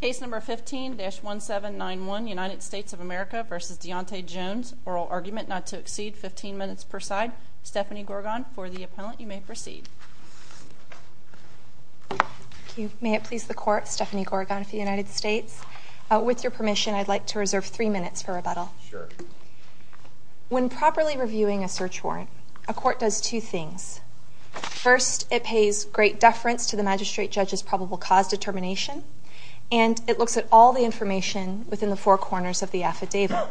Case number 15-1791, United States of America v. Dionte Jones. Oral argument not to exceed 15 minutes per side. Stephanie Gorgon, for the appellant, you may proceed. Thank you. May it please the Court, Stephanie Gorgon for the United States. With your permission, I'd like to reserve three minutes for rebuttal. Sure. When properly reviewing a search warrant, a court does two things. First, it pays great deference to the magistrate judge's probable cause determination, and it looks at all the information within the four corners of the affidavit.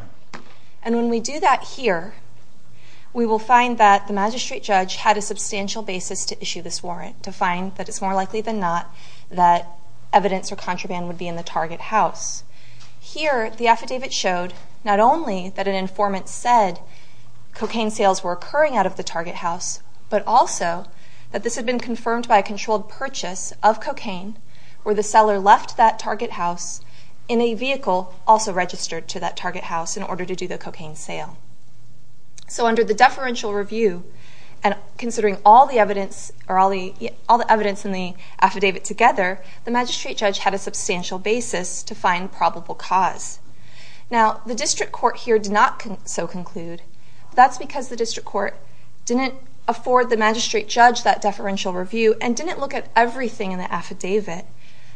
And when we do that here, we will find that the magistrate judge had a substantial basis to issue this warrant to find that it's more likely than not that evidence or contraband would be in the target house. Here, the affidavit showed not only that an informant said cocaine sales were occurring out of the target house, but also that this had been confirmed by a controlled purchase of cocaine where the seller left that target house in a vehicle also registered to that target house in order to do the cocaine sale. So under the deferential review, and considering all the evidence in the affidavit together, the magistrate judge had a substantial basis to find probable cause. Now, the district court here did not so conclude. That's because the district court didn't afford the magistrate judge that deferential review and didn't look at everything in the affidavit.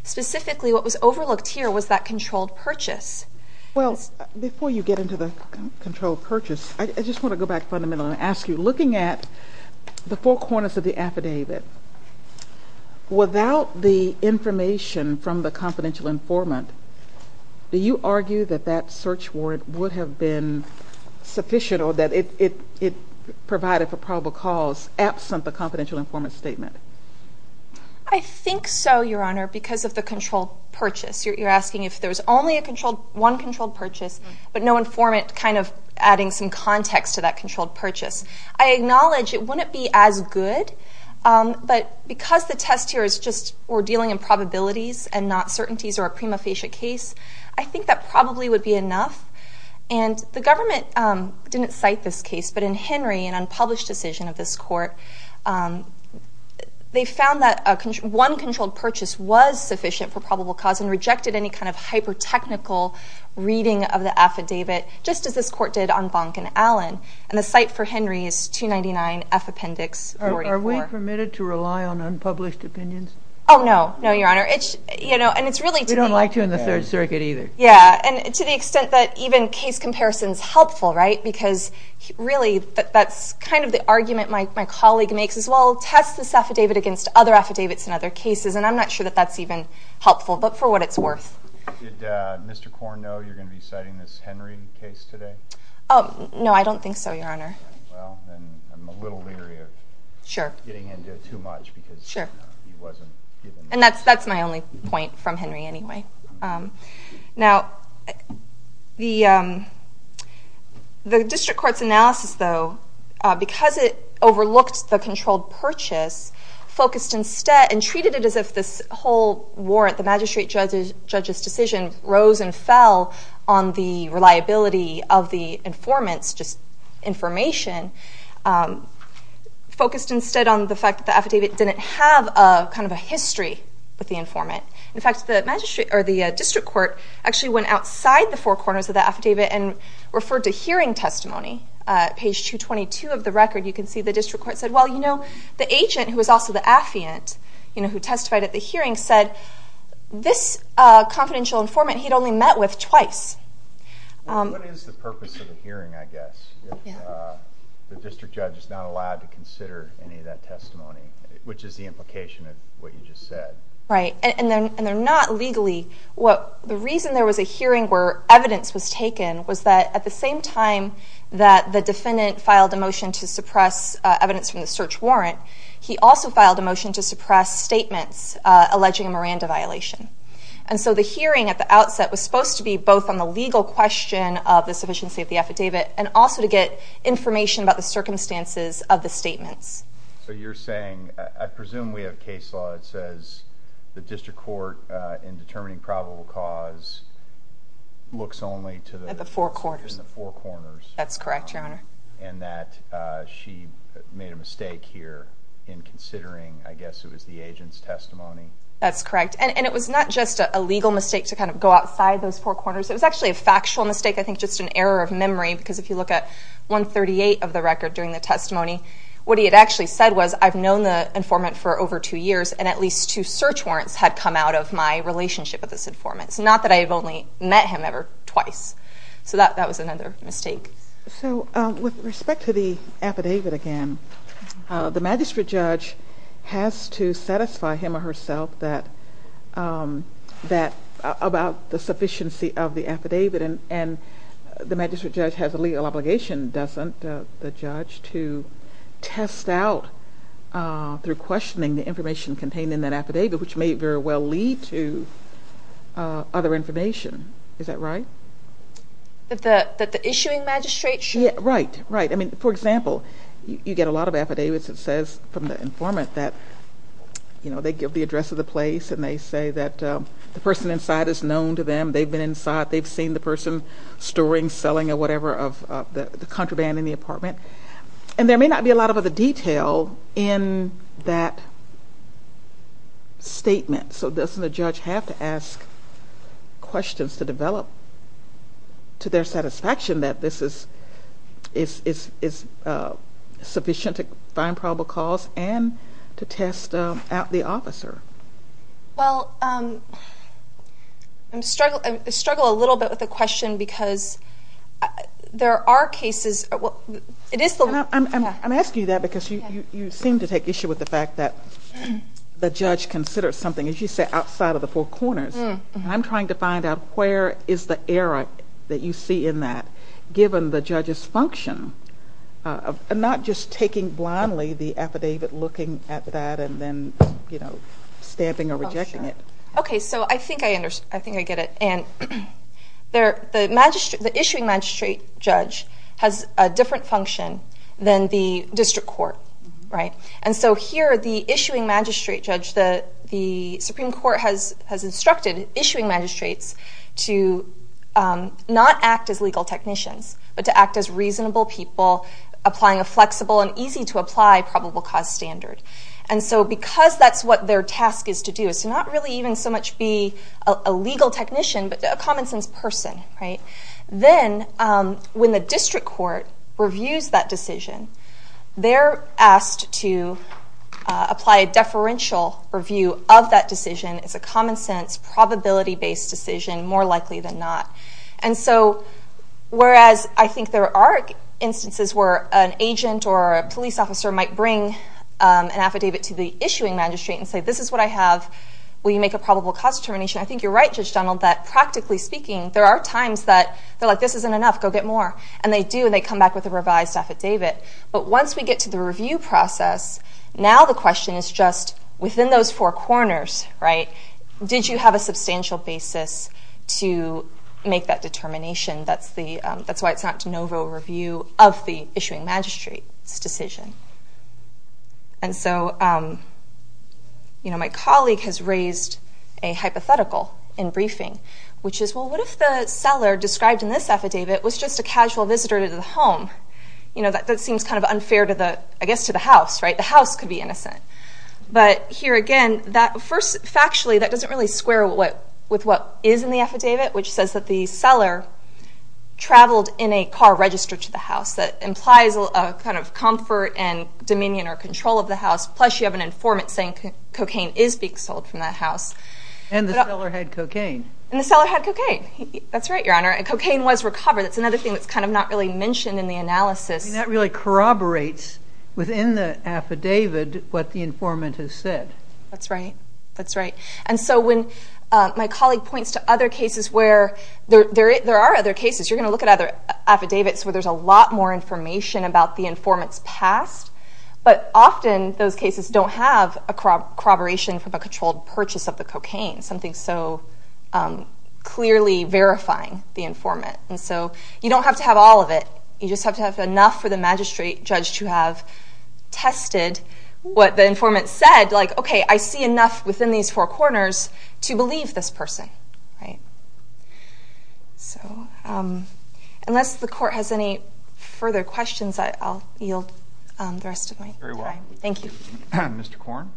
Specifically, what was overlooked here was that controlled purchase. Well, before you get into the controlled purchase, I just want to go back fundamentally and ask you, looking at the four corners of the affidavit, without the information from the confidential informant, do you argue that that search warrant would have been sufficient or that it provided for probable cause absent the confidential informant's statement? I think so, Your Honor, because of the controlled purchase. You're asking if there's only one controlled purchase, but no informant kind of adding some context to that controlled purchase. I acknowledge it wouldn't be as good, but because the test here is just we're dealing in probabilities and not certainties or a prima facie case, I think that probably would be enough. And the government didn't cite this case, but in Henry, an unpublished decision of this court, they found that one controlled purchase was sufficient for probable cause and rejected any kind of hyper-technical reading of the affidavit, just as this court did on Bonk and Allen. And the cite for Henry is 299F Appendix 44. Are we permitted to rely on unpublished opinions? Oh, no. No, Your Honor. We don't like to in the Third Circuit either. Yeah, and to the extent that even case comparison is helpful, right, because really that's kind of the argument my colleague makes is, well, test this affidavit against other affidavits in other cases, and I'm not sure that that's even helpful, but for what it's worth. Did Mr. Korn know you're going to be citing this Henry case today? No, I don't think so, Your Honor. Well, then I'm a little leery of getting into it too much because he wasn't given the chance. And that's my only point from Henry anyway. Now, the district court's analysis, though, because it overlooked the controlled purchase, focused instead and treated it as if this whole warrant, the magistrate judge's decision, rose and fell on the reliability of the informant's information, focused instead on the fact that the affidavit didn't have kind of a history with the informant. In fact, the district court actually went outside the four corners of the affidavit and referred to hearing testimony. Page 222 of the record, you can see the district court said, well, you know, the agent who was also the affiant who testified at the hearing said, this confidential informant he'd only met with twice. What is the purpose of a hearing, I guess, if the district judge is not allowed to consider any of that testimony, which is the implication of what you just said? Right. And they're not legally. The reason there was a hearing where evidence was taken was that at the same time that the defendant filed a motion to suppress evidence from the search warrant, he also filed a motion to suppress statements alleging a Miranda violation. And so the hearing at the outset was supposed to be both on the legal question of the sufficiency of the affidavit and also to get information about the circumstances of the statements. So you're saying, I presume we have a case law that says the district court, in determining probable cause, looks only to the four corners. That's correct, Your Honor. And that she made a mistake here in considering, I guess it was the agent's testimony. That's correct. And it was not just a legal mistake to kind of go outside those four corners. It was actually a factual mistake, I think just an error of memory, because if you look at 138 of the record during the testimony, what he had actually said was, I've known the informant for over two years, and at least two search warrants had come out of my relationship with this informant. It's not that I've only met him ever twice. So that was another mistake. So with respect to the affidavit again, the magistrate judge has to satisfy him or herself about the sufficiency of the affidavit, and the magistrate judge has a legal obligation, doesn't the judge, to test out through questioning the information contained in that affidavit, which may very well lead to other information. Is that right? That the issuing magistrate should? Right, right. I mean, for example, you get a lot of affidavits that says from the informant that, you know, they give the address of the place, and they say that the person inside is known to them. They've been inside. They've seen the person storing, selling, or whatever of the contraband in the apartment. And there may not be a lot of other detail in that statement, so doesn't the judge have to ask questions to develop to their satisfaction that this is sufficient to find probable cause and to test out the officer? Well, I struggle a little bit with the question because there are cases. I'm asking you that because you seem to take issue with the fact that the judge considers something, as you say, outside of the four corners. And I'm trying to find out where is the error that you see in that, given the judge's function of not just taking blindly the affidavit, looking at that, and then, you know, stamping or rejecting it. Okay, so I think I get it. And the issuing magistrate judge has a different function than the district court, right? And so here, the issuing magistrate judge, the Supreme Court has instructed issuing magistrates to not act as legal technicians, but to act as reasonable people, applying a flexible and easy-to-apply probable cause standard. And so because that's what their task is to do, is to not really even so much be a legal technician, but a common-sense person, right, then when the district court reviews that decision, they're asked to apply a deferential review of that decision. It's a common-sense, probability-based decision, more likely than not. And so whereas I think there are instances where an agent or a police officer might bring an affidavit to the issuing magistrate and say, this is what I have, will you make a probable cause determination? I think you're right, Judge Donald, that practically speaking, there are times that they're like, this isn't enough, go get more. And they do, and they come back with a revised affidavit. But once we get to the review process, now the question is just, within those four corners, right, did you have a substantial basis to make that determination? That's why it's not de novo review of the issuing magistrate's decision. And so my colleague has raised a hypothetical in briefing, which is, well, what if the seller described in this affidavit was just a casual visitor to the home? You know, that seems kind of unfair, I guess, to the house, right? The house could be innocent. But here again, factually, that doesn't really square with what is in the affidavit, which says that the seller traveled in a car registered to the house. That implies a kind of comfort and dominion or control of the house, plus you have an informant saying cocaine is being sold from that house. And the seller had cocaine. And the seller had cocaine. That's right, Your Honor. And cocaine was recovered. That's another thing that's kind of not really mentioned in the analysis. That really corroborates within the affidavit what the informant has said. That's right. That's right. And so when my colleague points to other cases where there are other cases, you're going to look at other affidavits where there's a lot more information about the informant's past. But often those cases don't have a corroboration from a controlled purchase of the cocaine, something so clearly verifying the informant. And so you don't have to have all of it. You just have to have enough for the magistrate judge to have tested what the informant said. Like, okay, I see enough within these four corners to believe this person. Okay. Right. So unless the court has any further questions, I'll yield the rest of my time. Very well. Thank you. Mr. Korn.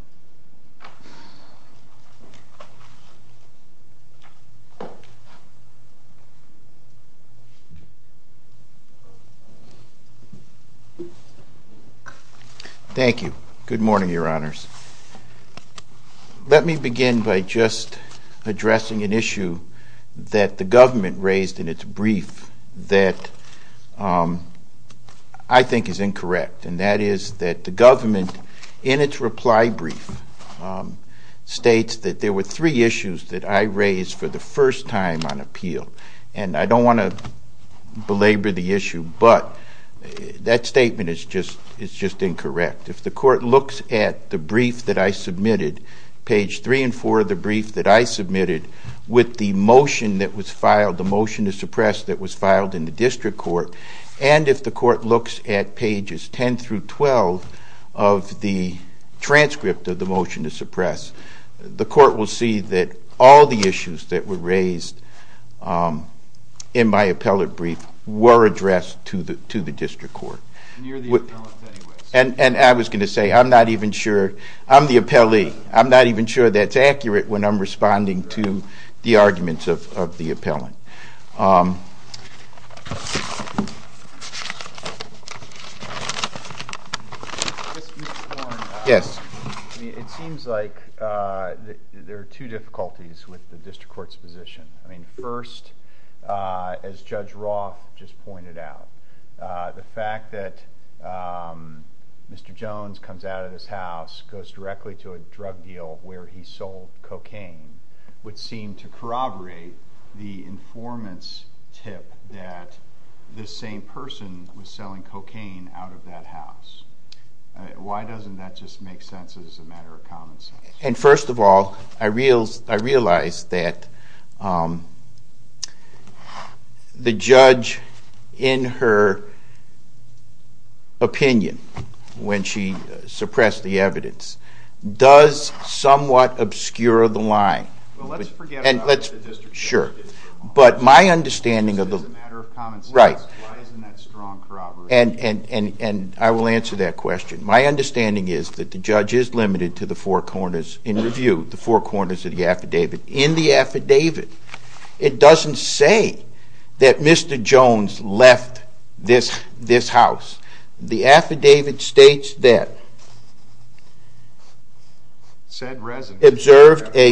Thank you. Good morning, Your Honors. Let me begin by just addressing an issue that the government raised in its brief that I think is incorrect, and that is that the government, in its reply brief, states that there were three issues that I raised for the first time on appeal. And I don't want to belabor the issue, but that statement is just incorrect. If the court looks at the brief that I submitted, page 3 and 4 of the brief that I submitted, with the motion that was filed, the motion to suppress that was filed in the district court, and if the court looks at pages 10 through 12 of the transcript of the motion to suppress, the court will see that all the issues that were raised in my appellate brief were addressed to the district court. And you're the appellant anyway. And I was going to say, I'm not even sure. I'm the appellee. I'm not even sure that's accurate when I'm responding to the arguments of the appellant. Mr. Korn. Yes. It seems like there are two difficulties with the district court's position. First, as Judge Roth just pointed out, the fact that Mr. Jones comes out of this house, goes directly to a drug deal where he sold cocaine, would seem to corroborate the informant's tip that this same person was selling cocaine out of that house. Why doesn't that just make sense as a matter of common sense? First of all, I realize that the judge, in her opinion, when she suppressed the evidence, does somewhat obscure the line. Well, let's forget about the district court. Sure. This is a matter of common sense. Right. Why isn't that strong corroboration? And I will answer that question. My understanding is that the judge is limited to the four corners in review, the four corners of the affidavit. In the affidavit, it doesn't say that Mr. Jones left this house. The affidavit states that, observed a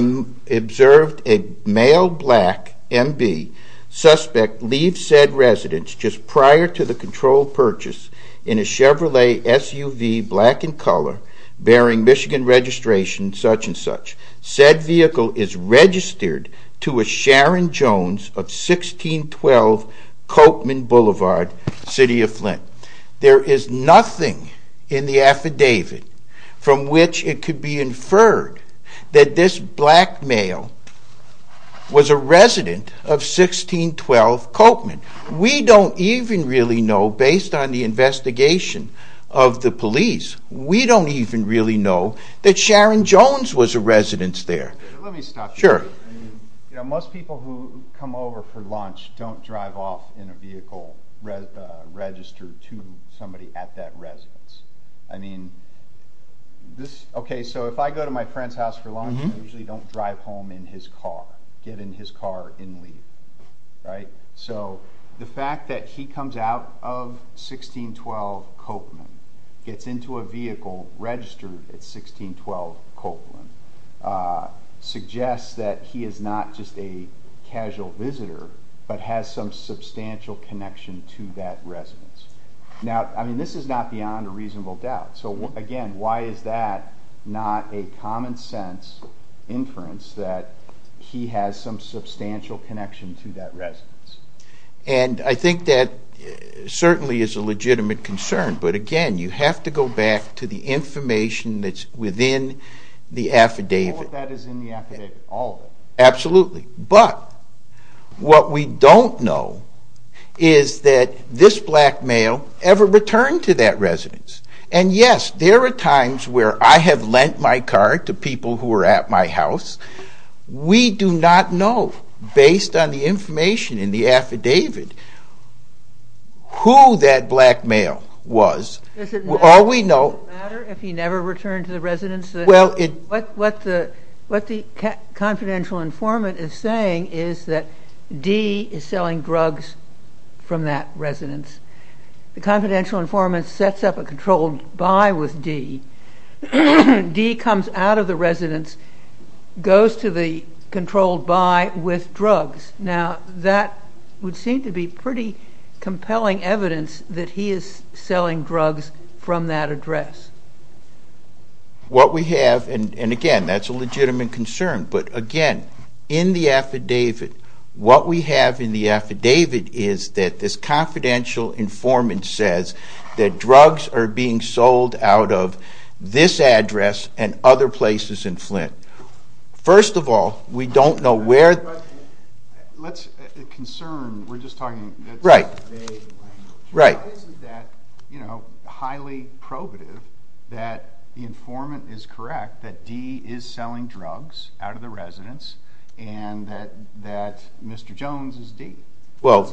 male black MB suspect leave said residence just prior to the controlled purchase in a Chevrolet SUV, black in color, bearing Michigan registration, such and such. Said vehicle is registered to a Sharon Jones of 1612 Coatman Boulevard, City of Flint. There is nothing in the affidavit from which it could be inferred that this black male was a resident of 1612 Coatman. We don't even really know, based on the investigation of the police, we don't even really know that Sharon Jones was a resident there. Let me stop you there. Sure. Most people who come over for lunch don't drive off in a vehicle registered to somebody at that residence. So if I go to my friend's house for lunch, I usually don't drive home in his car, get in his car and leave. So the fact that he comes out of 1612 Coatman, gets into a vehicle registered at 1612 Coatman, suggests that he is not just a casual visitor, but has some substantial connection to that residence. Now, this is not beyond a reasonable doubt. So again, why is that not a common sense inference that he has some substantial connection to that residence? And I think that certainly is a legitimate concern. But again, you have to go back to the information that's within the affidavit. All of that is in the affidavit. All of it. Absolutely. But what we don't know is that this black male ever returned to that residence. And yes, there are times where I have lent my car to people who were at my house. We do not know, based on the information in the affidavit, who that black male was. Does it matter if he never returned to the residence? What the confidential informant is saying is that D is selling drugs from that residence. The confidential informant sets up a controlled buy with D. D comes out of the residence, goes to the controlled buy with drugs. Now, that would seem to be pretty compelling evidence that he is selling drugs from that address. What we have, and again, that's a legitimate concern, but again, in the affidavit, what we have in the affidavit is that this confidential informant says that drugs are being sold out of this address and other places in Flint. First of all, we don't know where. Let's concern. We're just talking. Right. Why isn't that highly probative that the informant is correct that D is selling drugs out of the residence and that Mr. Jones is D? Well,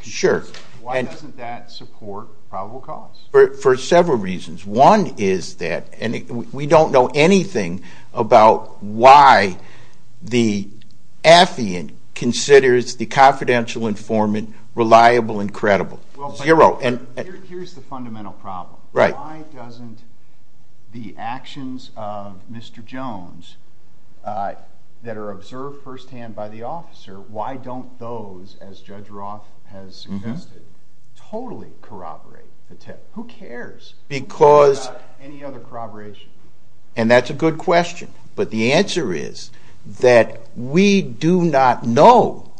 sure. Why doesn't that support probable cause? For several reasons. One is that we don't know anything about why the affiant considers the confidential informant reliable and credible. Zero. Here's the fundamental problem. Right. Why doesn't the actions of Mr. Jones that are observed firsthand by the officer, why don't those, as Judge Roth has suggested, totally corroborate the tip? Who cares about any other corroboration? And that's a good question. But the answer is that we do not know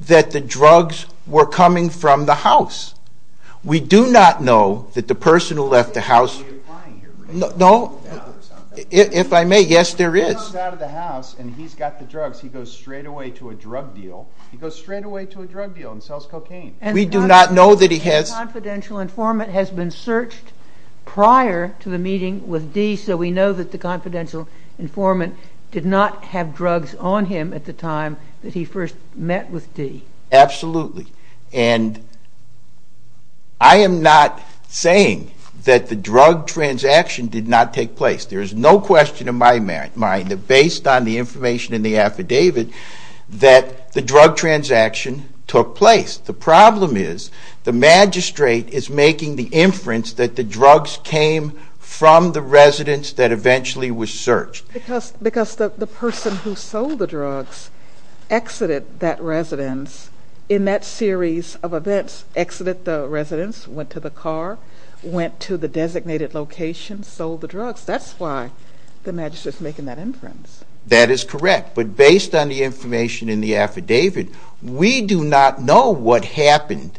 that the drugs were coming from the house. We do not know that the person who left the house. Are you implying here? No. If I may, yes, there is. He comes out of the house and he's got the drugs. He goes straight away to a drug deal. He goes straight away to a drug deal and sells cocaine. We do not know that he has. The confidential informant has been searched prior to the meeting with D, so we know that the confidential informant did not have drugs on him at the time that he first met with D. Absolutely. And I am not saying that the drug transaction did not take place. There is no question in my mind that based on the information in the affidavit that the drug transaction took place. The problem is the magistrate is making the inference that the drugs came from the residence that eventually was searched. Because the person who sold the drugs exited that residence in that series of events, exited the residence, went to the car, went to the designated location, sold the drugs. That's why the magistrate is making that inference. That is correct. But based on the information in the affidavit, we do not know what happened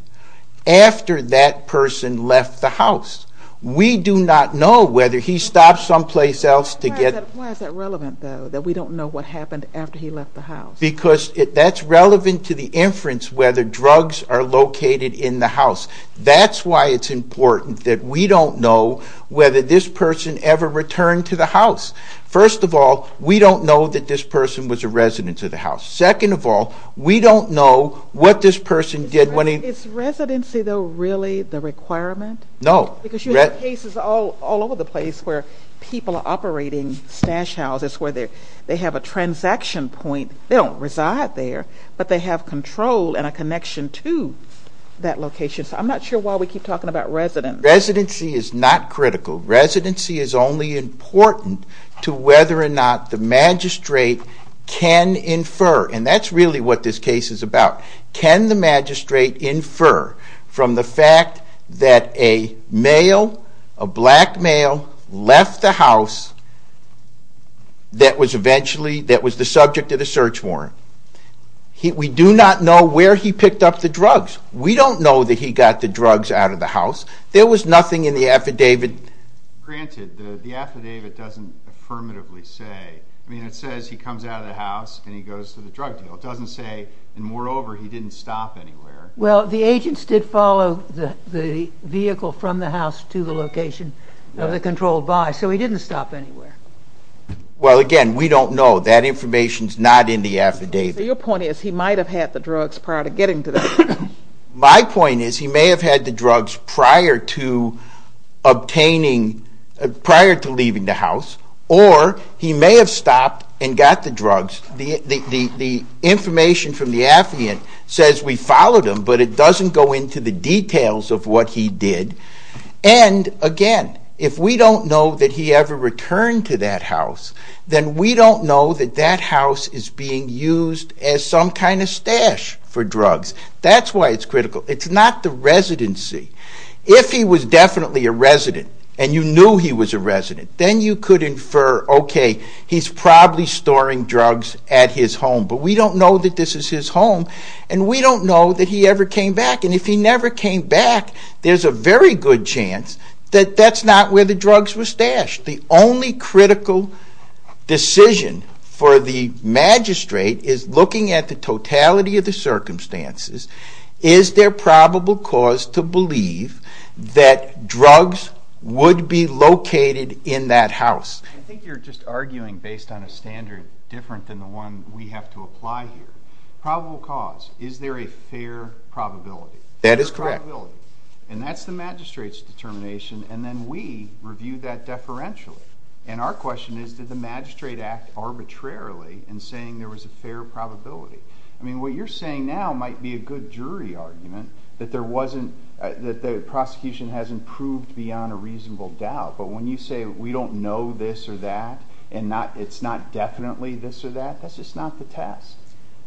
after that person left the house. We do not know whether he stopped someplace else to get... Why is that relevant, though, that we don't know what happened after he left the house? Because that's relevant to the inference whether drugs are located in the house. That's why it's important that we don't know whether this person ever returned to the house. First of all, we don't know that this person was a resident of the house. Second of all, we don't know what this person did when he... Is residency, though, really the requirement? No. Because you have cases all over the place where people are operating stash houses where they have a transaction point. They don't reside there, but they have control and a connection to that location. So I'm not sure why we keep talking about residence. Residency is not critical. Residency is only important to whether or not the magistrate can infer, and that's really what this case is about. Can the magistrate infer from the fact that a male, a black male, left the house that was the subject of the search warrant? We do not know where he picked up the drugs. We don't know that he got the drugs out of the house. There was nothing in the affidavit. Granted, the affidavit doesn't affirmatively say... I mean, it says he comes out of the house and he goes to the drug deal. It doesn't say, and moreover, he didn't stop anywhere. Well, the agents did follow the vehicle from the house to the location of the controlled buy, so he didn't stop anywhere. Well, again, we don't know. That information is not in the affidavit. So your point is he might have had the drugs prior to getting to the... The information from the affidavit says we followed him, but it doesn't go into the details of what he did. And, again, if we don't know that he ever returned to that house, then we don't know that that house is being used as some kind of stash for drugs. That's why it's critical. It's not the residency. If he was definitely a resident and you knew he was a resident, then you could infer, okay, he's probably storing drugs at his home. But we don't know that this is his home, and we don't know that he ever came back. And if he never came back, there's a very good chance that that's not where the drugs were stashed. The only critical decision for the magistrate is looking at the totality of the circumstances. Is there probable cause to believe that drugs would be located in that house? I think you're just arguing based on a standard different than the one we have to apply here. Probable cause. Is there a fair probability? That is correct. Fair probability. And that's the magistrate's determination, and then we review that deferentially. And our question is, did the magistrate act arbitrarily in saying there was a fair probability? I mean, what you're saying now might be a good jury argument that there wasn't, that the prosecution hasn't proved beyond a reasonable doubt. But when you say we don't know this or that, and it's not definitely this or that, that's just not the test.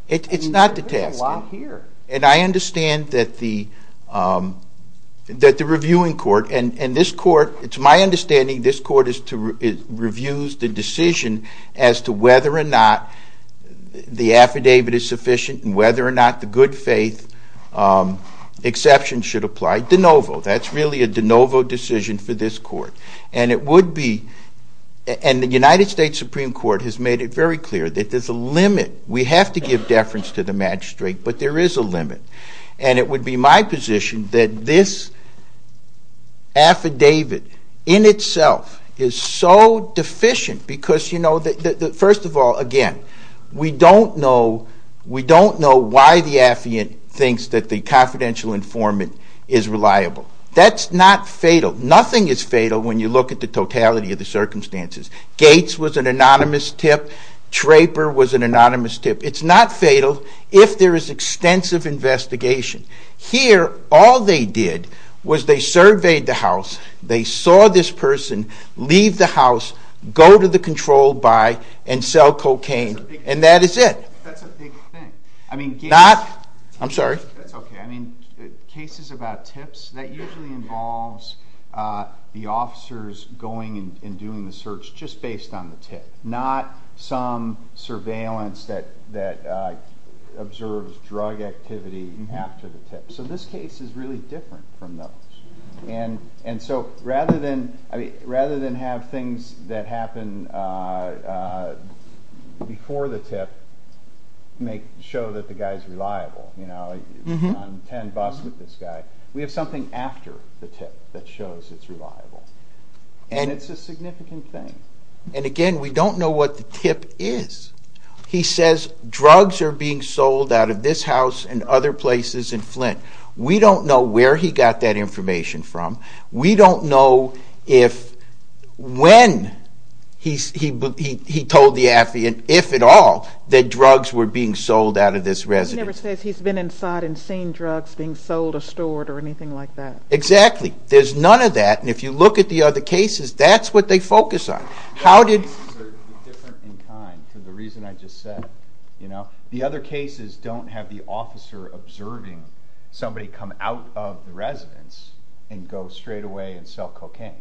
It's not the test. And I understand that the reviewing court, and this court, it's my understanding this court reviews the decision as to whether or not the affidavit is sufficient and whether or not the good faith exception should apply de novo. That's really a de novo decision for this court. And it would be, and the United States Supreme Court has made it very clear that there's a limit. We have to give deference to the magistrate, but there is a limit. And it would be my position that this affidavit in itself is so deficient because, you know, first of all, again, we don't know why the affiant thinks that the confidential informant is reliable. That's not fatal. Nothing is fatal when you look at the totality of the circumstances. Gates was an anonymous tip. Traper was an anonymous tip. It's not fatal if there is extensive investigation. Here, all they did was they surveyed the house. They saw this person leave the house, go to the control by, and sell cocaine. And that is it. That's a big thing. I'm sorry. That's okay. I mean, cases about tips, that usually involves the officers going and doing the search just based on the tip, not some surveillance that observes drug activity after the tip. So this case is really different from those. And so rather than have things that happen before the tip show that the guy is reliable, you know, on 10 bus with this guy, we have something after the tip that shows it's reliable. And it's a significant thing. And, again, we don't know what the tip is. He says drugs are being sold out of this house and other places in Flint. We don't know where he got that information from. We don't know if when he told the affiant, if at all, that drugs were being sold out of this residence. He never says he's been inside and seen drugs being sold or stored or anything like that. Exactly. There's none of that. And if you look at the other cases, that's what they focus on. The other cases are different in kind, for the reason I just said. The other cases don't have the officer observing somebody come out of the residence and go straight away and sell cocaine.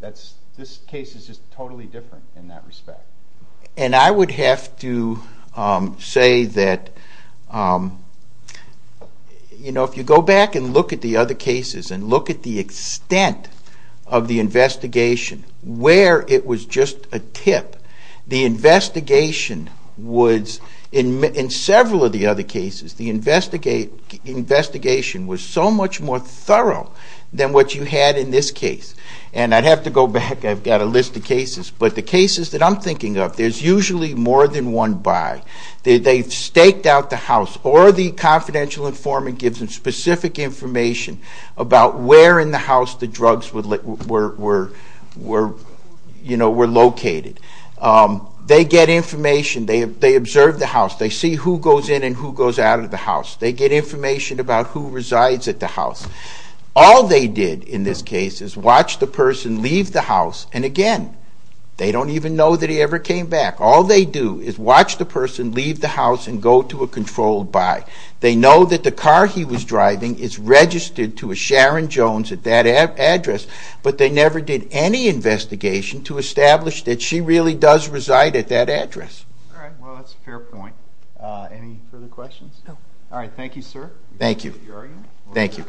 This case is just totally different in that respect. And I would have to say that, you know, if you go back and look at the other cases and look at the extent of the investigation, where it was just a tip, the investigation was, in several of the other cases, the investigation was so much more thorough than what you had in this case. And I'd have to go back. I've got a list of cases. But the cases that I'm thinking of, there's usually more than one by. They've staked out the house, or the confidential informant gives them specific information about where in the house the drugs were located. They get information. They observe the house. They see who goes in and who goes out of the house. They get information about who resides at the house. All they did in this case is watch the person leave the house. And again, they don't even know that he ever came back. All they do is watch the person leave the house and go to a controlled by. They know that the car he was driving is registered to a Sharon Jones at that address, but they never did any investigation to establish that she really does reside at that address. All right, well, that's a fair point. Any further questions? No. All right, thank you, sir. Thank you. Thank you.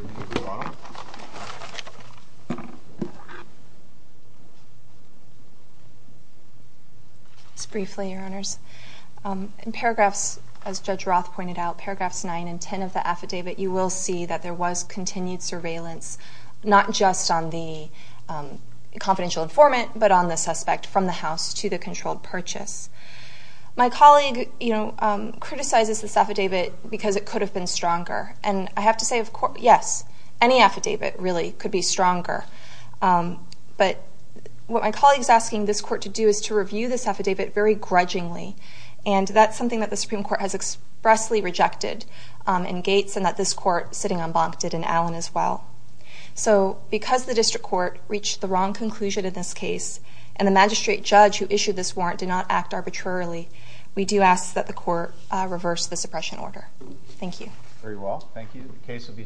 Just briefly, Your Honors. In paragraphs, as Judge Roth pointed out, paragraphs 9 and 10 of the affidavit, you will see that there was continued surveillance, not just on the confidential informant, but on the suspect from the house to the controlled purchase. My colleague criticizes this affidavit because it could have been stronger. And I have to say, yes, any affidavit really could be stronger. But what my colleague is asking this court to do is to review this affidavit very grudgingly, and that's something that the Supreme Court has expressly rejected in Gates and that this court, sitting on Bonk, did in Allen as well. So because the district court reached the wrong conclusion in this case and the magistrate judge who issued this warrant did not act arbitrarily, we do ask that the court reverse the suppression order. Thank you. Very well. Thank you. The case will be submitted.